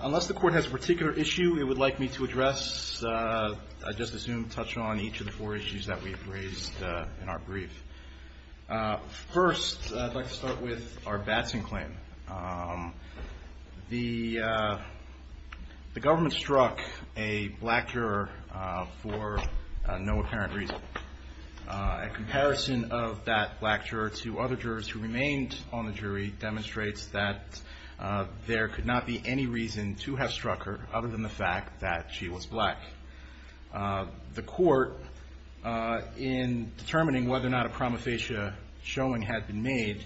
Unless the court has a particular issue it would like me to address, I just assume touch on each of the four issues that we've raised in our brief. First, I'd like to start with our Batson claim. The government struck a black juror for no apparent reason. A comparison of that black juror to other jurors who remained on the jury demonstrates that there could not be any reason to have struck her other than the fact that she was black. The court in determining whether or not a prima facie showing had been made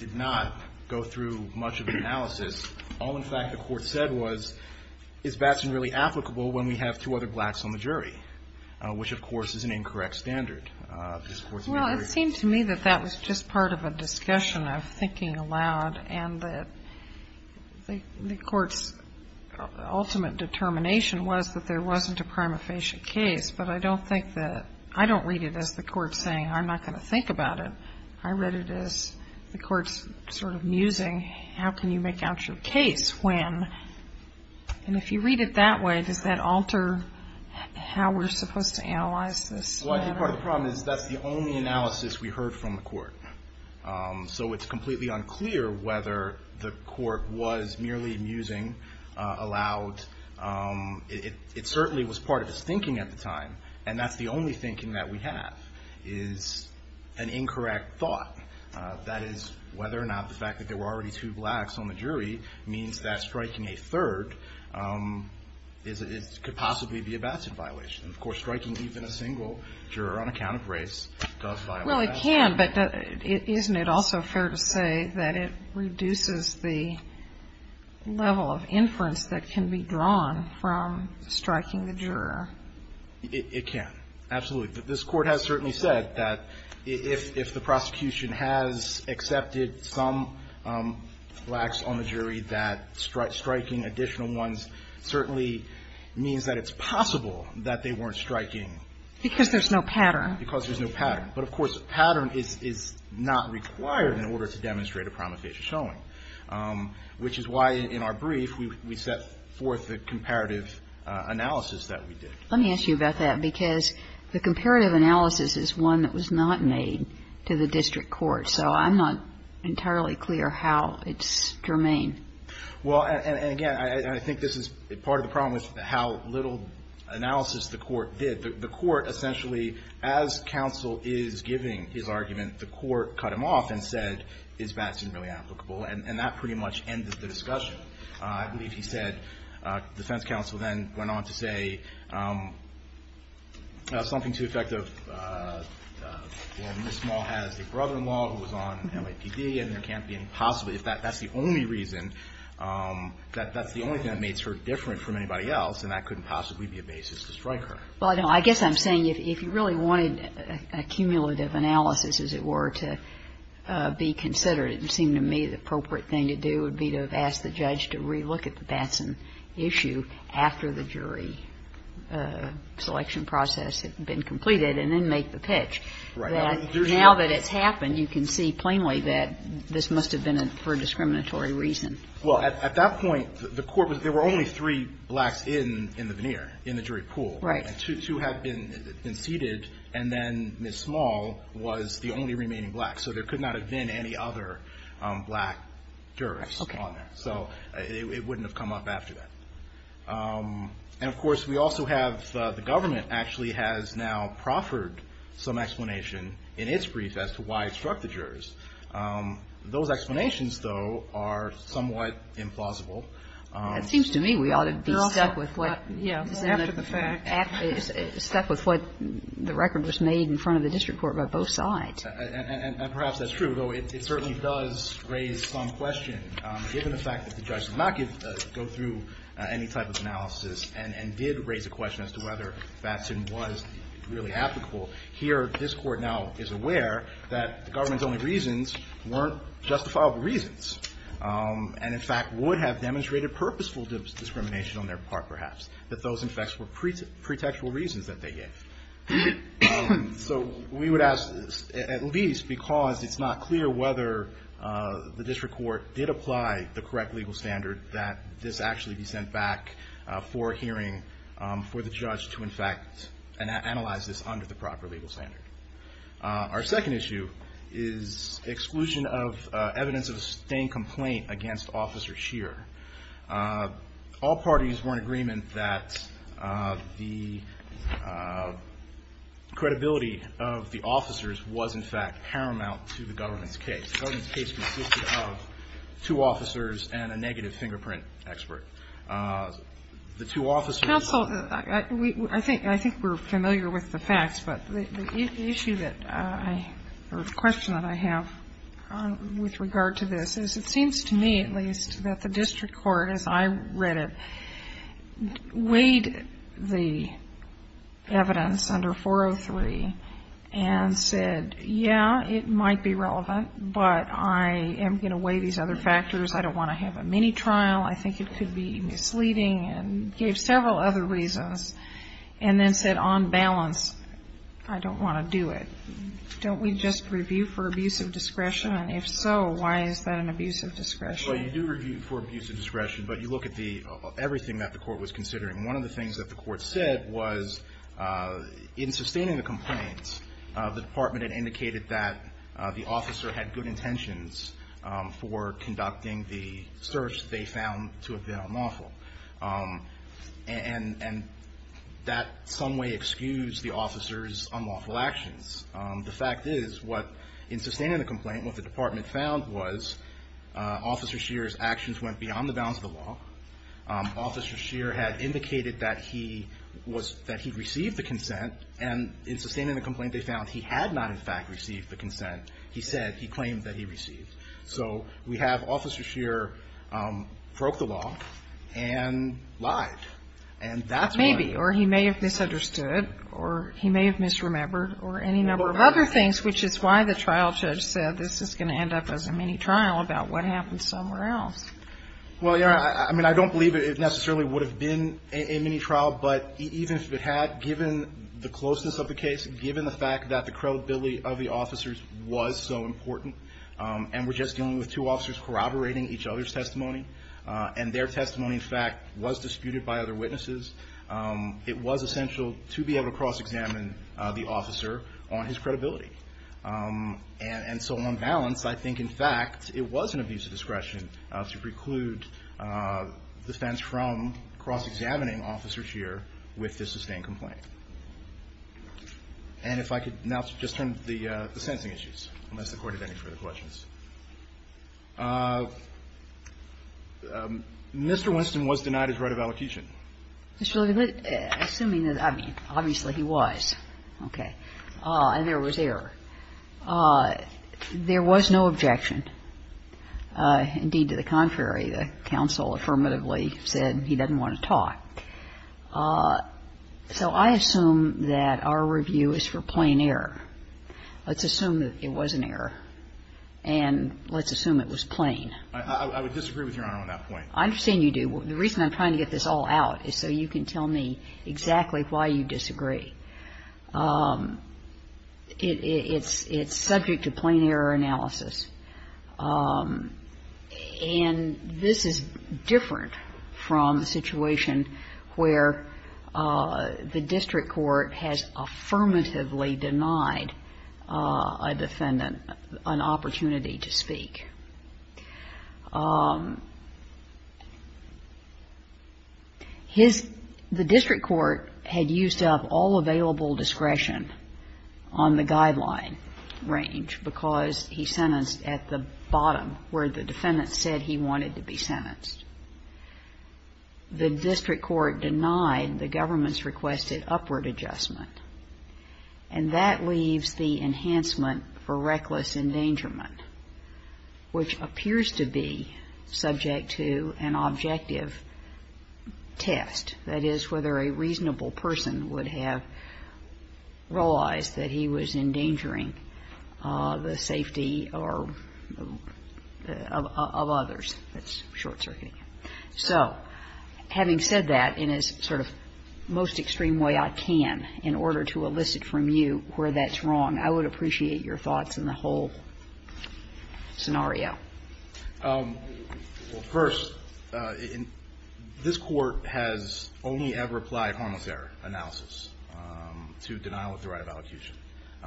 did not go through much of an analysis. All, in fact, the court said was, is Batson really applicable when we have two other blacks on the jury, which, of course, is an incorrect standard. This Court's very ---- KAGAN Well, it seemed to me that that was just part of a discussion of thinking aloud and that the Court's ultimate determination was that there wasn't a prima facie case. But I don't think that ---- I don't read it as the Court saying, I'm not going to think about it. I read it as the Court's sort of musing, how can you make out your case when ---- and if you read it that way, does that alter how we're supposed to analyze this? WINSTON Well, I think part of the problem is that's the only analysis we heard from the Court. So it's completely unclear whether the Court was merely musing aloud. It certainly was part of its thinking at the time, and that's the only thinking that we have, is an incorrect thought. That is, whether or not the fact that there were already two blacks on the jury means that striking a third is ---- could possibly be a Batson violation. And, of course, striking even a single juror on account of race does violate that. Sotomayor Well, it can, but isn't it also fair to say that it reduces the level of inference that can be drawn from striking the juror? WINSTON It can, absolutely. This Court has certainly said that if the prosecution has accepted some blacks on the jury, that striking additional ones certainly means that it's possible that they weren't striking ---- Sotomayor Because there's no pattern. WINSTON But, of course, a pattern is not required in order to demonstrate a prima facie showing, which is why, in our brief, we set forth the comparative analysis that we did. Kagan Let me ask you about that, because the comparative analysis is one that was not made to the district court. So I'm not entirely clear how it's germane. WINSTON Well, and again, I think this is ---- part of the problem is how little analysis the Court did. The Court essentially, as counsel is giving his argument, the Court cut him off and said, is Batson really applicable? And that pretty much ended the discussion. I believe he said, defense counsel then went on to say something to the effect of, well, Ms. Small has a brother-in-law who was on MAPD, and there can't be any possibility, if that's the only reason, that's the only thing that makes her different from anybody else, and that couldn't possibly be a basis to strike her. Kagan Well, no. I guess I'm saying if you really wanted a cumulative analysis, as it were, to be considered, it seemed to me the appropriate thing to do would be to have asked the judge to relook at the Batson issue after the jury selection process had been completed and then make the pitch. Now that it's happened, you can see plainly that this must have been for a discriminatory reason. Well, at that point, the Court was, there were only three blacks in the veneer, in the jury pool. And two had been seated, and then Ms. Small was the only remaining black. So there could not have been any other black jurors on there. So it wouldn't have come up after that. And of course, we also have, the government actually has now proffered some explanation in its brief as to why it struck the jurors. Those explanations, though, are somewhat implausible. Kagan It seems to me we ought to be stuck with what the record was made in front of the district court by both sides. Verrilli, Jr. And perhaps that's true, though it certainly does raise some question. Given the fact that the judge did not go through any type of analysis and did raise a question as to whether Batson was really applicable, here this Court now is aware that the government's only reasons weren't justifiable reasons, and in fact, would have demonstrated purposeful discrimination on their part, perhaps. That those, in fact, were pretextual reasons that they gave. So we would ask, at least, because it's not clear whether the district court did apply the correct legal standard, that this actually be sent back for a hearing for the judge to, in fact, analyze this under the proper legal standard. Our second issue is exclusion of evidence of a staying complaint against Officer Scheer. All parties were in agreement that the credibility of the officers was, in fact, paramount to the government's case. The government's case consisted of two officers and a negative fingerprint expert. The two officers- I think we're familiar with the facts, but the issue that I, or the question that I have with regard to this is, it seems to me, at least, that the district court, as I read it, weighed the evidence under 403 and said, yeah, it might be relevant, but I am going to weigh these other factors. I don't want to have a mini-trial. I think it could be misleading, and gave several other reasons, and then said, on balance, I don't want to do it. Don't we just review for abuse of discretion? And if so, why is that an abuse of discretion? Well, you do review for abuse of discretion, but you look at everything that the court was considering. One of the things that the court said was, in sustaining the complaint, the department had indicated that the officer had good intentions for conducting the search they found to have been unlawful, and that some way excused the officer's unlawful actions. The fact is, what, in sustaining the complaint, what the department found was, Officer Shearer's actions went beyond the bounds of the law. Officer Shearer had indicated that he received the consent, and in sustaining the complaint, they found he had not, in fact, received the consent. He said, he claimed that he received. So, we have Officer Shearer broke the law, and lied. And that's why- Maybe, or he may have misunderstood, or he may have misremembered, or any number of other things, which is why the trial judge said, this is going to end up as a mini trial about what happened somewhere else. Well, yeah, I mean, I don't believe it necessarily would have been a mini trial, but even if it had, given the closeness of the case, given the fact that the credibility of the officers was so important. And we're just dealing with two officers corroborating each other's testimony. And their testimony, in fact, was disputed by other witnesses. It was essential to be able to cross-examine the officer on his credibility. And so, on balance, I think, in fact, it was an abuse of discretion to preclude defense from cross-examining Officer Shearer with this sustained complaint. And if I could now just turn to the sentencing issues, unless the Court had any further questions. Mr. Winston was denied his right of allocation. Mr. Levy, assuming that, I mean, obviously he was, okay, and there was error. There was no objection. Indeed, to the contrary, the counsel affirmatively said he doesn't want to talk. So I assume that our review is for plain error. Let's assume that it was an error. And let's assume it was plain. I would disagree with Your Honor on that point. I understand you do. The reason I'm trying to get this all out is so you can tell me exactly why you disagree. It's subject to plain error analysis. And this is different from the situation where the district court has affirmatively denied a defendant an opportunity to speak. His, the district court had used up all available discretion on the guideline range because he sentenced at the bottom where the defendant said he wanted to be sentenced. The district court denied the government's requested upward adjustment. And that leaves the enhancement for reckless endangerment, which appears to be subject to an objective test, that is, whether a reasonable person would have realized that he was endangering the safety of others. That's short-circuiting. So having said that, in as sort of most extreme way I can in order to elicit from you where that's wrong, I would appreciate your thoughts on the whole scenario. First, this Court has only ever applied harmless error analysis to denial of the right of allocution.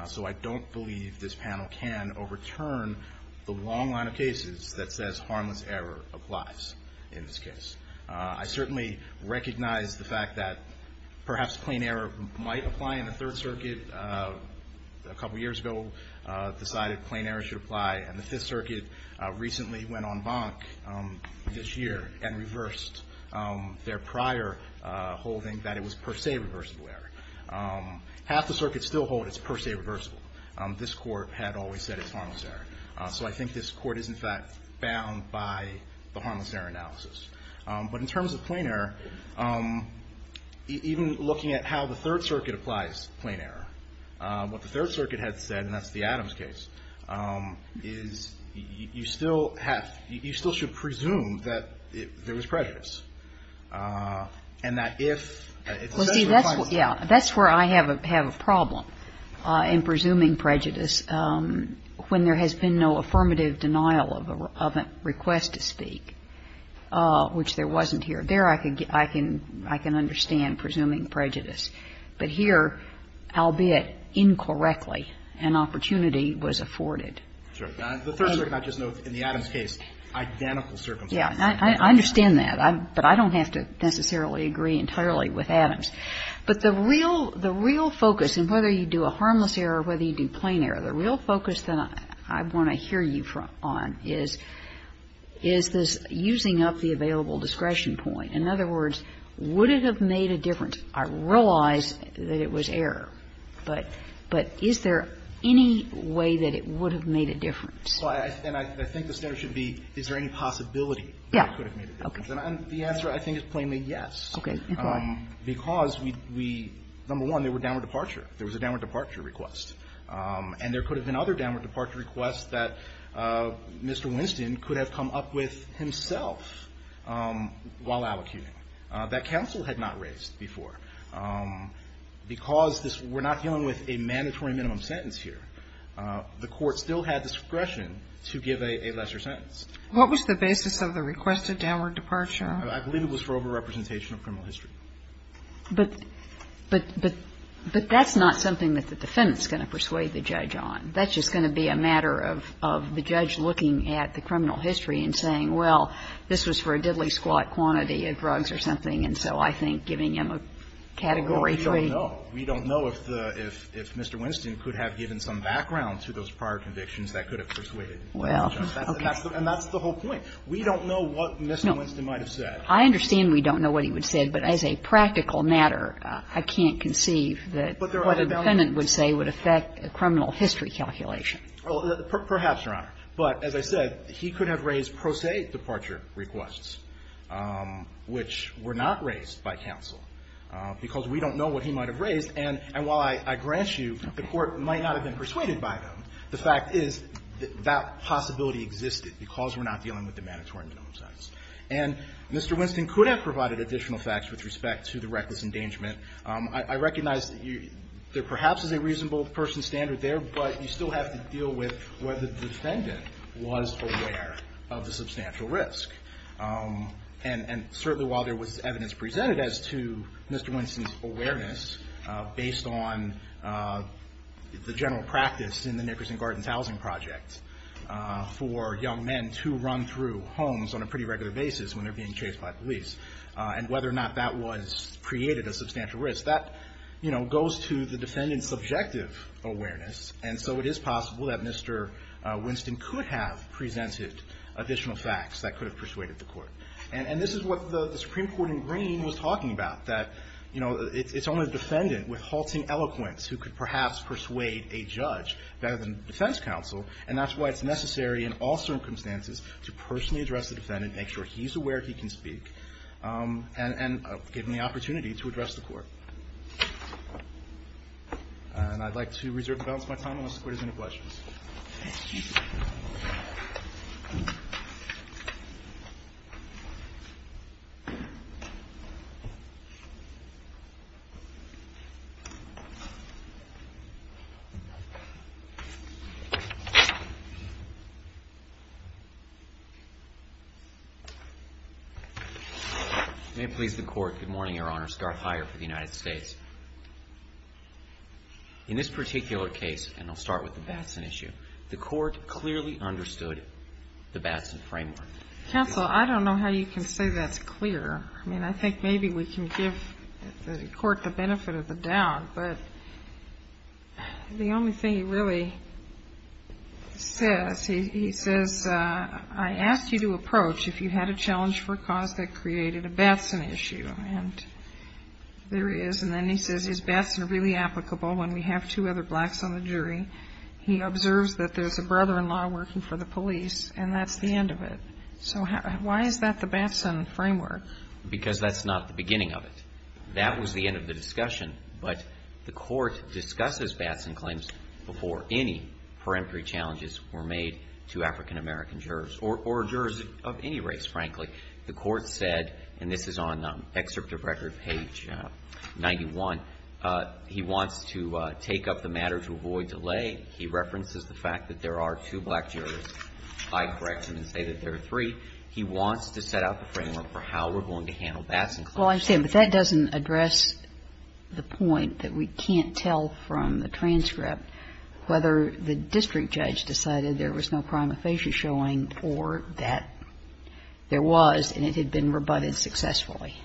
So I don't believe this panel can overturn the long line of cases that says harmless error applies in this case. I certainly recognize the fact that perhaps plain error might apply in the Third Circuit. A couple years ago decided plain error should apply. And the Fifth Circuit recently went on bonk this year and reversed their prior holding that it was per se reversible error. Half the Circuit still hold it's per se reversible. This Court had always said it's harmless error. So I think this Court is in fact bound by the harmless error analysis. But in terms of plain error, even looking at how the Third Circuit applies plain error, what the Third Circuit had said, and that's the Adams case, is you still should presume that there was prejudice. Well, see, that's where I have a problem in presuming prejudice when there has been no affirmative denial of a request to speak, which there wasn't here. There I can understand presuming prejudice. But here, albeit incorrectly, an opportunity was afforded. Sure. The Third Circuit, I just note, in the Adams case, identical circumstances. Yeah. I understand that. But I don't have to necessarily agree entirely with Adams. But the real focus, and whether you do a harmless error or whether you do plain error, the real focus that I want to hear you on is this using up the available discretion point. In other words, would it have made a difference? I realize that it was error. But is there any way that it would have made a difference? And I think the standard should be is there any possibility that it could have made a difference. And the answer, I think, is plainly yes. Okay. Go ahead. Because we, number one, there were downward departure. There was a downward departure request. And there could have been other downward departure requests that Mr. Winston could have come up with himself while allocuting, that counsel had not raised before. Because we're not dealing with a mandatory minimum sentence here, the Court still had discretion to give a lesser sentence. What was the basis of the requested downward departure? I believe it was for overrepresentation of criminal history. But that's not something that the defendant's going to persuade the judge on. That's just going to be a matter of the judge looking at the criminal history and saying, well, this was for a diddly-squat quantity of drugs or something. And so I think giving him a category 3. Well, we don't know. We don't know if Mr. Winston could have given some background to those prior convictions that could have persuaded the judge. And that's the whole point. We don't know what Mr. Winston might have said. I understand we don't know what he would have said. But as a practical matter, I can't conceive that what a defendant would say would affect a criminal history calculation. Perhaps, Your Honor. But as I said, he could have raised pro se departure requests, which were not raised by counsel, because we don't know what he might have raised. And while I grant you the Court might not have been persuaded by them, the fact is that possibility existed, because we're not dealing with the mandatory minimum sentence. And Mr. Winston could have provided additional facts with respect to the reckless endangerment. I recognize that there perhaps is a reasonable person standard there, but you still have to deal with whether the defendant was aware of the substantial risk. And certainly while there was evidence presented as to Mr. Winston's awareness based on the general practice in the Nickerson Gardens Housing Project for young men to run through homes on a pretty regular basis when they're being chased by police, and whether or not that created a substantial risk, that goes to the defendant's subjective awareness. And so it is possible that Mr. Winston could have presented additional facts that could have persuaded the Court. And this is what the Supreme Court in Green was talking about, that it's only the defendant with halting eloquence who could perhaps persuade a judge rather than defense counsel, and that's why it's necessary in all circumstances to personally address the defendant, make sure he's aware he can speak, and give him the opportunity to address the Court. And I'd like to reserve the balance of my time unless the Court has any questions. Thank you. May it please the Court. Good morning, Your Honor. Scott Hyer for the United States. In this particular case, and I'll start with the Batson issue, the Court clearly understood the Batson framework. Counsel, I don't know how you can say that's clear. I mean, I think maybe we can give the Court the benefit of the doubt, but the only thing he really says, he says, I asked you to approach if you had a challenge for a cause that created a Batson issue. And there is, and then he says, is Batson really applicable when we have two other blacks on the jury? He observes that there's a brother-in-law working for the police, and that's the end of it. So why is that the Batson framework? Because that's not the beginning of it. That was the end of the discussion, but the Court discusses Batson claims before any peremptory challenges were made to African-American jurors, or jurors of any race, frankly. The Court said, and this is on excerpt of record page 91, he wants to take up the matter to avoid delay. He references the fact that there are two black jurors, I correct him and say that there are three. He wants to set up a framework for how we're going to handle Batson claims. Well, I understand, but that doesn't address the point that we can't tell from the transcript whether the district judge decided there was no prima facie showing for that there was, and it had been rebutted successfully.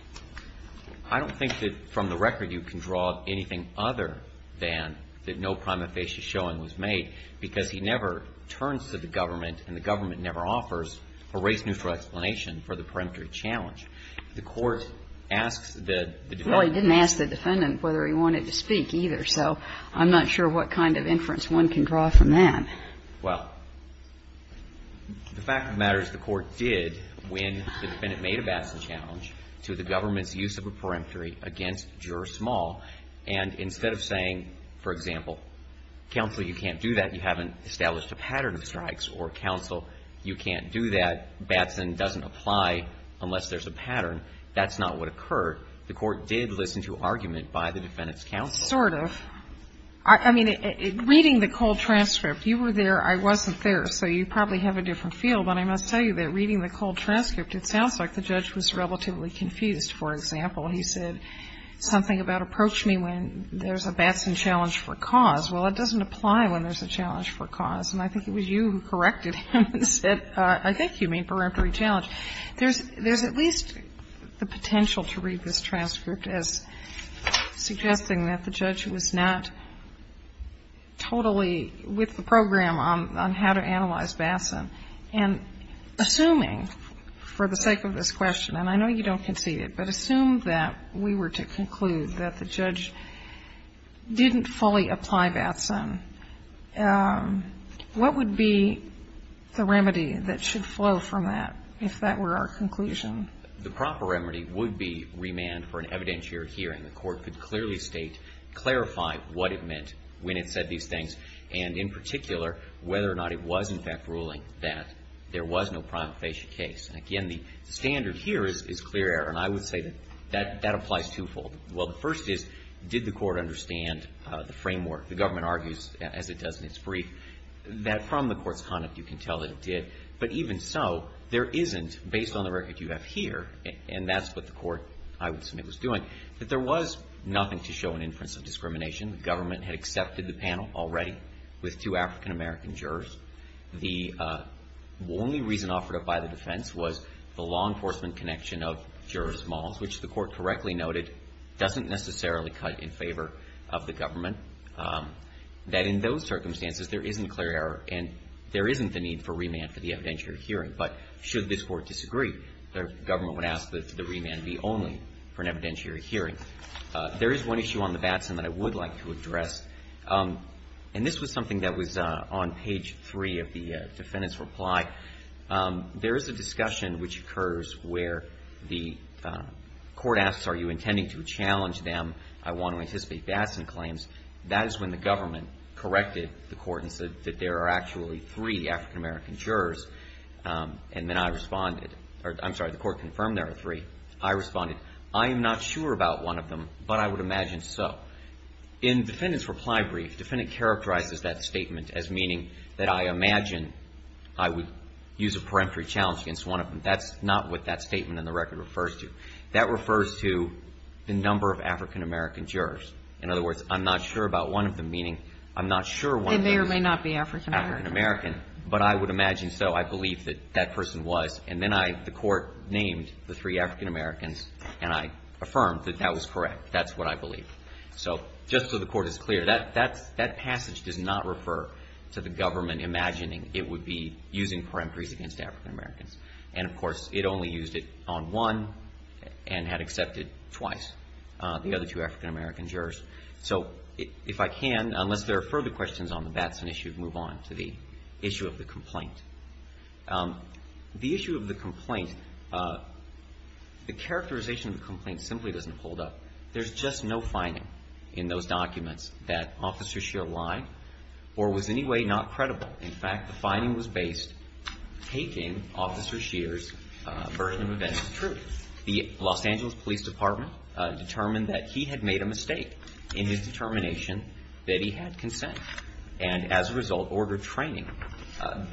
I don't think that from the record you can draw anything other than that no prima facie showing was made, because he never turns to the government, and the government never offers a race-neutral explanation for the peremptory challenge. The Court asks the defendant. Well, he didn't ask the defendant whether he wanted to speak either, so I'm not sure what kind of inference one can draw from that. Well, the fact of the matter is the Court did, when the defendant made a Batson challenge to the government's use of a peremptory against Juror Small, and instead of saying, for example, counsel, you can't do that, you haven't established a pattern of strikes, or counsel, you can't do that, Batson doesn't apply unless there's a pattern, that's not what occurred. The Court did listen to argument by the defendant's counsel. I mean, reading the cold transcript, you were there, I wasn't there, so you probably have a different feel, but I must tell you that reading the cold transcript, it sounds like the judge was relatively confused. For example, he said something about approach me when there's a Batson challenge for cause. Well, it doesn't apply when there's a challenge for cause, and I think it was you who corrected him and said, I think you mean peremptory challenge. There's at least the potential to read this transcript as suggesting that the judge was not totally with the program on how to analyze Batson, and assuming, for the sake of this question, and I know you don't concede it, but assume that we were to conclude that the judge didn't fully apply Batson, what would be the remedy that should flow from that, if that were our conclusion? The proper remedy would be remand for an evidentiary hearing. The Court could clearly state, clarify what it meant when it said these things, and in particular, whether or not it was, in fact, ruling that there was no prima facie case. And again, the standard here is clear error, and I would say that that applies twofold. Well, the first is, did the Court understand the framework? The government argues, as it does in its brief, that from the Court's conduct, you can tell that it did. But even so, there isn't, based on the record you have here, and that's what the Court, I would submit, was doing, that there was nothing to show an inference of discrimination. The government had accepted the panel already with two African-American jurors. The only reason offered up by the defense was the law enforcement connection of jurors' models, which the Court correctly noted doesn't necessarily cut in favor of the government, that in those circumstances, there isn't clear error, and there isn't the need for remand for the evidentiary hearing. But should this Court disagree, the government would ask that the remand be only for an evidentiary hearing. There is one issue on the Batson that I would like to address, and this was something that was on page three of the defendant's reply. There is a discussion which occurs where the Court asks, are you intending to challenge them? I want to anticipate Batson claims. That is when the government corrected the Court and said that there are actually three African-American jurors, and then I responded. I'm sorry, the Court confirmed there are three. I responded, I am not sure about one of them, but I would imagine so. In the defendant's reply brief, the defendant characterizes that statement as meaning that I imagine I would use a peremptory challenge against one of them. That's not what that statement in the record refers to. That refers to the number of African-American jurors. In other words, I'm not sure about one of them, meaning I'm not sure one of them is African-American. They may or may not be African-American. But I would imagine so. I believe that that person was. And then I, the Court named the three African-Americans, and I affirmed that that was correct. That's what I believe. So just so the Court is clear, that passage does not refer to the government imagining it would be using peremptories against African-Americans. And, of course, it only used it on one and had accepted twice the other two African-American jurors. So if I can, unless there are further questions on the Batson issue, move on to the issue of the complaint. The issue of the complaint, the characterization of the complaint simply doesn't hold up. There's just no finding in those documents that Officer Scheer lied or was in any way not credible. In fact, the finding was based taking Officer Scheer's version of events as truth. The Los Angeles Police Department determined that he had made a mistake in his determination that he had consent and, as a result, ordered training.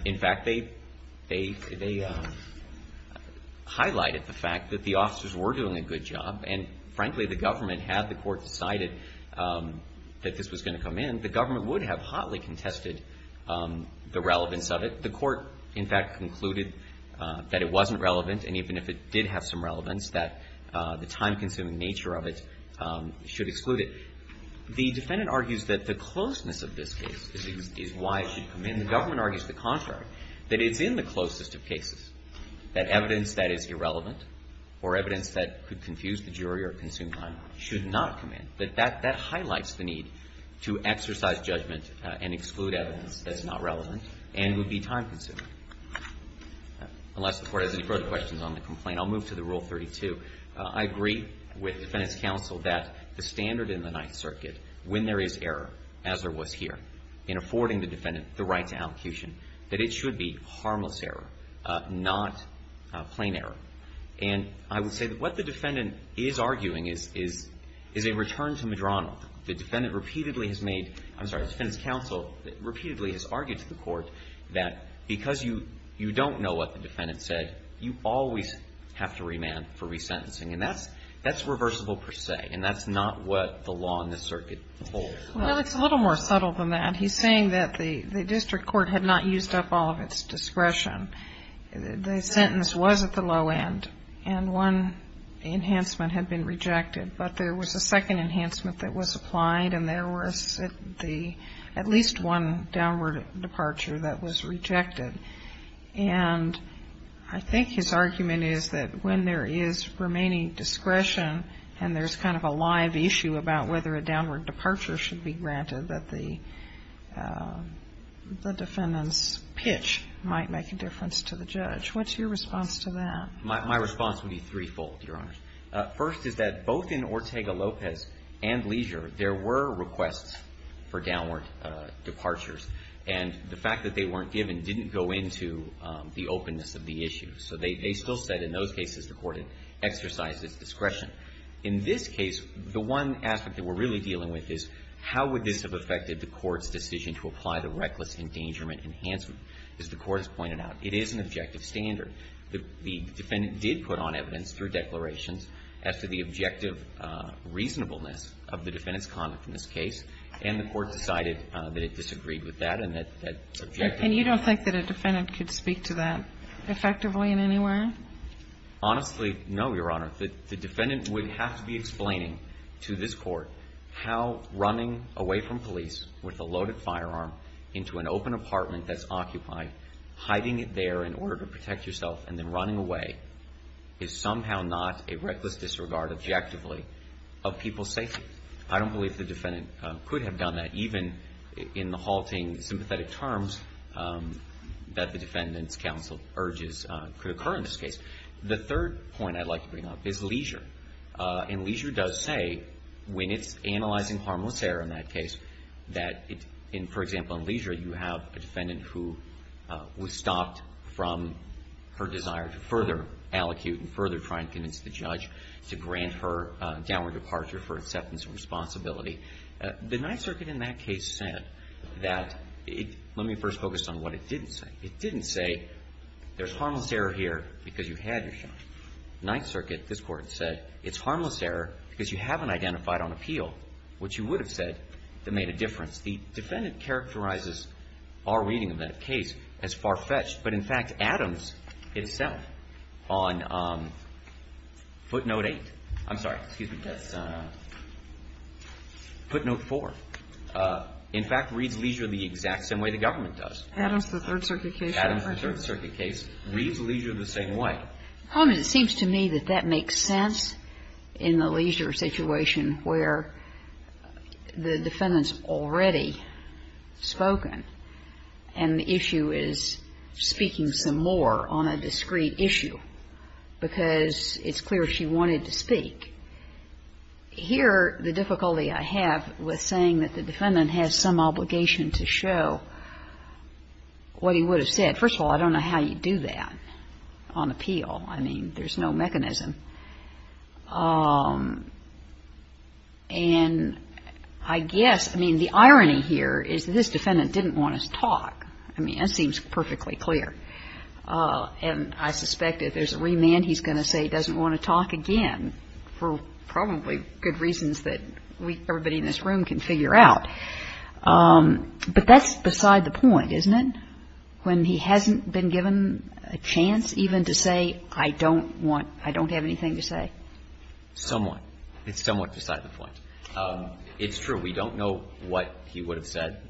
In fact, they highlighted the fact that the officers were doing a good job. And, frankly, the government, had the Court decided that this was going to come in, the government would have hotly contested the relevance of it. The Court, in fact, concluded that it wasn't relevant. And even if it did have some relevance, that the time-consuming nature of it should exclude it. The defendant argues that the closeness of this case is why it should come in. The government argues the contrary, that it's in the closest of cases, that evidence that is irrelevant or evidence that could confuse the jury or consume time should not come in. That highlights the need to exercise judgment and exclude evidence that's not relevant and would be time-consuming. Unless the Court has any further questions on the complaint, I'll move to the Rule 32. I agree with Defendant's Counsel that the standard in the Ninth Circuit, when there is error, as there was here, in affording the defendant the right to allecution, that it should be harmless error, not plain error. And I would say that what the defendant is arguing is a return to Madrona. The defendant repeatedly has made, I'm sorry, the Defendant's Counsel repeatedly has argued to the Court that because you don't know what the defendant said, you always have to remand for resentencing. And that's reversible per se. And that's not what the law in this circuit holds. Well, it's a little more subtle than that. He's saying that the district court had not used up all of its discretion. The sentence was at the low end. And one enhancement had been rejected. But there was a second enhancement that was applied, and there was at least one downward departure that was rejected. And I think his argument is that when there is remaining discretion, and there's kind of a live issue about whether a downward departure should be granted, that the defendant's pitch might make a difference to the judge. What's your response to that? My response would be threefold, Your Honors. First is that both in Ortega-Lopez and Leisure, there were requests for downward departures. And the fact that they weren't given didn't go into the openness of the issue. So they still said in those cases the Court had exercised its discretion. In this case, the one aspect that we're really dealing with is how would this have affected the Court's decision to apply the reckless endangerment enhancement? As the Court has pointed out, it is an objective standard. The defendant did put on evidence through declarations as to the objective reasonableness of the defendant's conduct in this case. And the Court decided that it disagreed with that and that that objective And you don't think that a defendant could speak to that effectively in any way? Honestly, no, Your Honor. The defendant would have to be explaining to this Court how running away from police with a loaded firearm into an open apartment that's occupied, hiding it there in order to protect yourself, and then running away is somehow not a reckless disregard objectively of people's safety. I don't believe the defendant could have done that, even in the halting, sympathetic terms that the defendant's counsel urges could occur in this case. The third point I'd like to bring up is Leisure. And Leisure does say, when it's analyzing harmless error in that case, that, for example, in Leisure, you have a defendant who was stopped from her desire to further allocute and further try and convince the judge to grant her downward departure for acceptance and responsibility. The Ninth Circuit in that case said that, let me first focus on what it didn't say. It didn't say, there's harmless error here because you had your shot. Ninth Circuit, this Court, said, it's harmless error because you haven't identified on appeal what you would have said that made a difference. The defendant characterizes our reading of that case as far-fetched. But, in fact, Adams itself on footnote 8, I'm sorry, excuse me, footnote 4, in fact, reads Leisure the exact same way the government does. Adams, the Third Circuit case? Adams, the Third Circuit case, reads Leisure the same way. The problem is, it seems to me that that makes sense in the Leisure situation where the defendant's already spoken and the issue is speaking some more on a discrete issue because it's clear she wanted to speak. Here, the difficulty I have with saying that the defendant has some obligation to show what he would have said, first of all, I don't know how you do that on appeal. I mean, there's no mechanism. And I guess, I mean, the irony here is this defendant didn't want to talk. I mean, that seems perfectly clear. And I suspect if there's a remand, he's going to say he doesn't want to talk again for probably good reasons that everybody in this room can figure out. But that's beside the point, isn't it? When he hasn't been given a chance even to say, I don't want, I don't have anything to say? Somewhat. It's somewhat beside the point. It's true. We don't know what he would have said.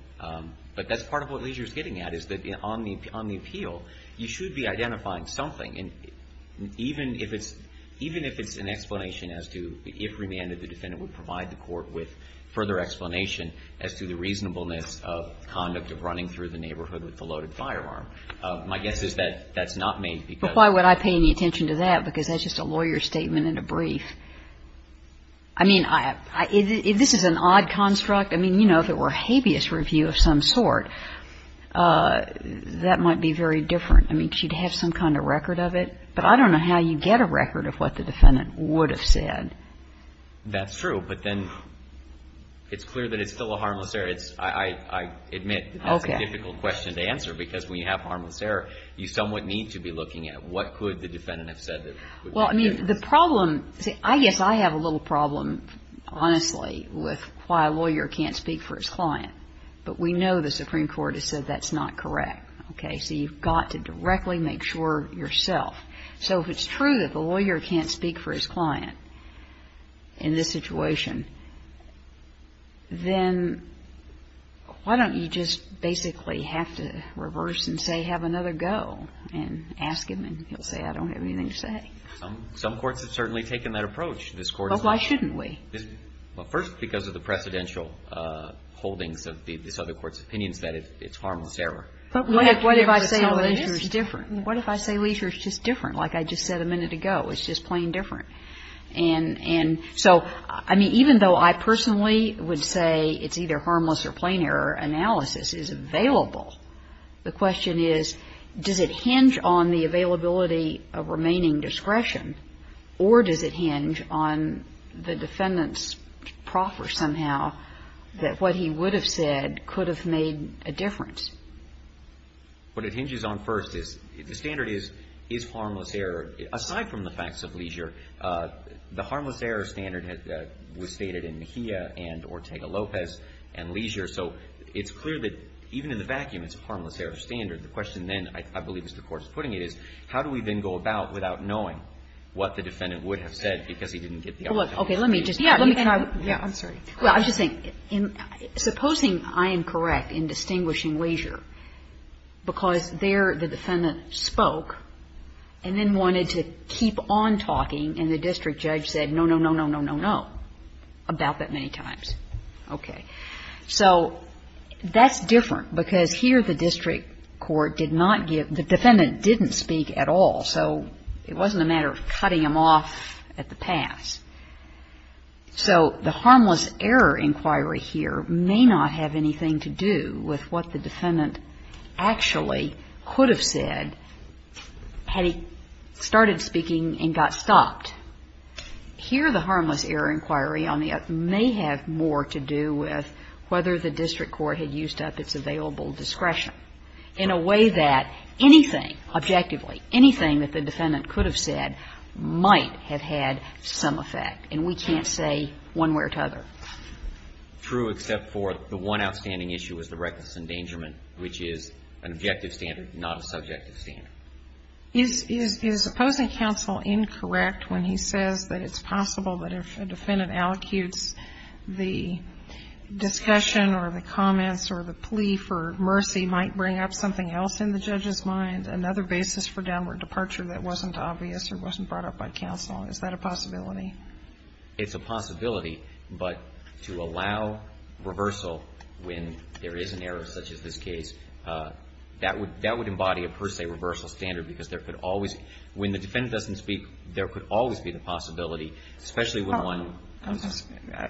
But that's part of what Leisure's getting at is that on the appeal, you should be identifying something. And even if it's an explanation as to if remanded, the defendant would provide the court with further explanation as to the reasonableness of conduct of running through the neighborhood with the loaded firearm. My guess is that that's not made because. But why would I pay any attention to that? Because that's just a lawyer's statement in a brief. I mean, this is an odd construct. I mean, you know, if it were a habeas review of some sort, that might be very different. I mean, she'd have some kind of record of it. But I don't know how you get a record of what the defendant would have said. That's true. But then it's clear that it's still a harmless error. I admit that's a difficult question to answer. Because when you have harmless error, you somewhat need to be looking at what could the defendant have said. Well, I mean, the problem, I guess I have a little problem, honestly, with why a lawyer can't speak for his client. But we know the Supreme Court has said that's not correct. Okay. So you've got to directly make sure yourself. So if it's true that the lawyer can't speak for his client in this situation, then why don't you just basically have to reverse and say have another go and ask him and he'll say I don't have anything to say? Some courts have certainly taken that approach. This Court has not. But why shouldn't we? Well, first, because of the precedential holdings of this other court's opinions that it's harmless error. But what if I say leisure is different? What if I say leisure is just different, like I just said a minute ago? It's just plain different. And so, I mean, even though I personally would say it's either harmless or plain error analysis is available, the question is does it hinge on the availability of remaining discretion or does it hinge on the defendant's proffer somehow that what he would have said could have made a difference? What it hinges on first is the standard is harmless error. Aside from the facts of leisure, the harmless error standard was stated in Mejia and Ortega-Lopez and leisure. So it's clear that even in the vacuum it's a harmless error standard. The question then, I believe as the Court's putting it, is how do we then go about without knowing what the defendant would have said because he didn't get the opportunity? Okay. Let me just. Yeah. Yeah. I'm sorry. Well, I was just saying, supposing I am correct in distinguishing leisure because there the defendant spoke and then wanted to keep on talking and the district judge said no, no, no, no, no, no, no about that many times. Okay. So that's different because here the district court did not give, the defendant didn't speak at all. So it wasn't a matter of cutting him off at the pass. So the harmless error inquiry here may not have anything to do with what the defendant actually could have said had he started speaking and got stopped. Here the harmless error inquiry may have more to do with whether the district court had used up its available discretion in a way that anything, objectively, anything that the defendant could have said might have had some effect. And we can't say one way or the other. True, except for the one outstanding issue is the reckless endangerment, which is an objective standard, not a subjective standard. Is opposing counsel incorrect when he says that it's possible that if a defendant allocutes the discussion or the comments or the plea for mercy might bring up something else in the judge's mind, another basis for downward departure that wasn't obvious or wasn't brought up by counsel? Is that a possibility? It's a possibility, but to allow reversal when there is an error such as this case, that would embody a, per se, reversal standard because there could always, when the defendant doesn't speak, there could always be the possibility, especially when one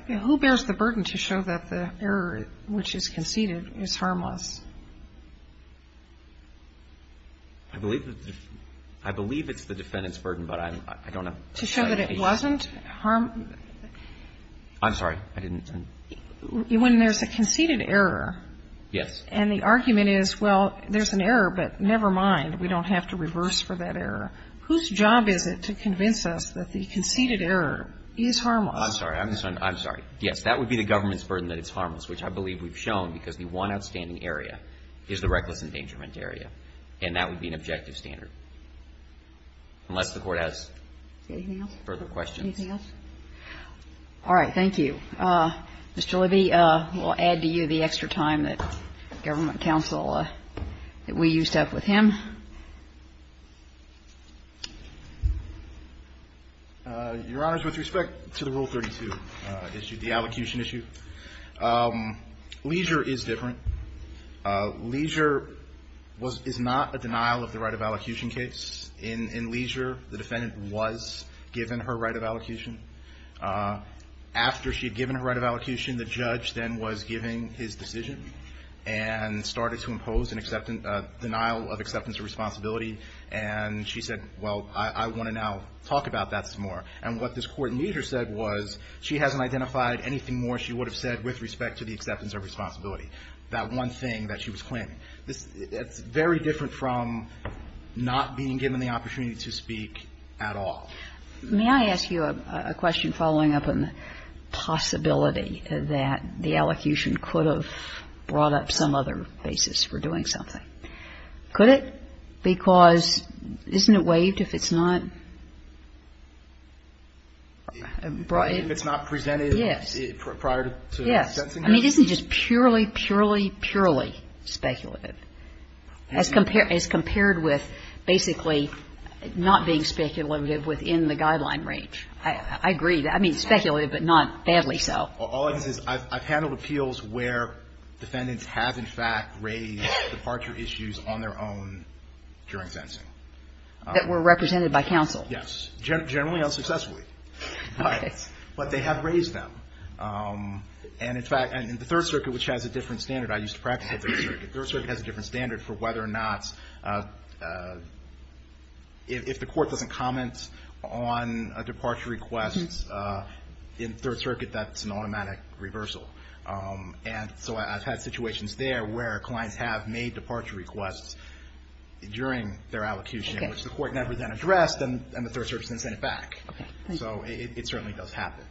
Who bears the burden to show that the error which is conceded is harmless? I believe it's the defendant's burden, but I don't know. To show that it wasn't harmless? I'm sorry. I didn't. When there's a conceded error. Yes. And the argument is, well, there's an error, but never mind. We don't have to reverse for that error. Whose job is it to convince us that the conceded error is harmless? I'm sorry. I'm sorry. Yes, that would be the government's burden that it's harmless, which I believe we've shown because the one outstanding area is the reckless endangerment area, and that would be an objective standard, unless the Court has further questions. Anything else? All right. Thank you. Mr. Libby, we'll add to you the extra time that government counsel, that we used up with him. Your Honor, with respect to the Rule 32 issue, the allocution issue, leisure is different. Leisure is not a denial of the right of allocation case. In leisure, the defendant was given her right of allocation. After she had given her right of allocation, the judge then was giving his decision, and started to impose a denial of acceptance of responsibility. And she said, well, I want to now talk about that some more. And what this Court in leisure said was she hasn't identified anything more she would have said with respect to the acceptance of responsibility, that one thing that she was claiming. It's very different from not being given the opportunity to speak at all. May I ask you a question following up on the possibility that the allocution could have brought up some other basis for doing something? Could it? Because isn't it waived if it's not brought in? If it's not presented prior to sentencing? Yes. I mean, isn't it just purely, purely, purely speculative? As compared with basically not being speculative within the guideline range. I agree. I mean, speculative, but not badly so. All I can say is I've handled appeals where defendants have, in fact, raised departure issues on their own during sentencing. That were represented by counsel. Yes. Generally, unsuccessfully. Okay. But they have raised them. Third Circuit has a different standard for whether or not, if the court doesn't comment on a departure request in Third Circuit, that's an automatic reversal. And so I've had situations there where clients have made departure requests during their allocation, which the court never then addressed, and the Third Circuit then sent it back. Okay. So it certainly does happen.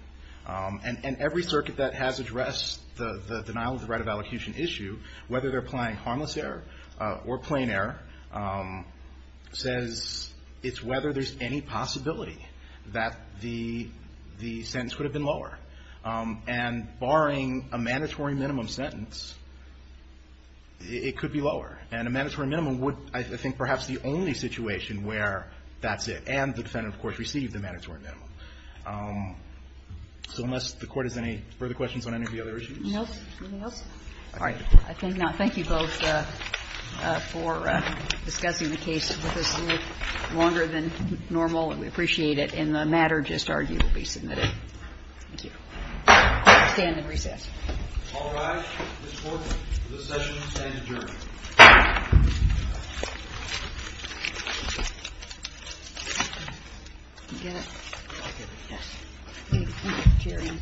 And every circuit that has addressed the denial of the right of allocation issue, whether they're applying harmless error or plain error, says it's whether there's any possibility that the sentence could have been lower. And barring a mandatory minimum sentence, it could be lower. And a mandatory minimum would, I think, perhaps be the only situation where that's it. And the defendant, of course, received the mandatory minimum. So unless the court has any further questions on any of the other issues? No. Anything else? All right. I think not. Thank you both for discussing the case with us a little longer than normal. And we appreciate it. And the matter just argued will be submitted. Thank you. Stand in recess. All rise. Ms. Horton, the session is adjourned. You get it? I'll get it. Thank you, Jerry.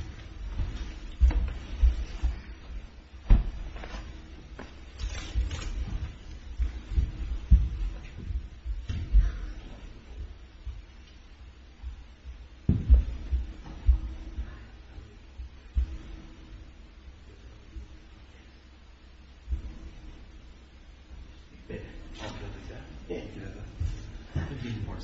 Thank you. Thank you. Thank you. Thank you for your assistance.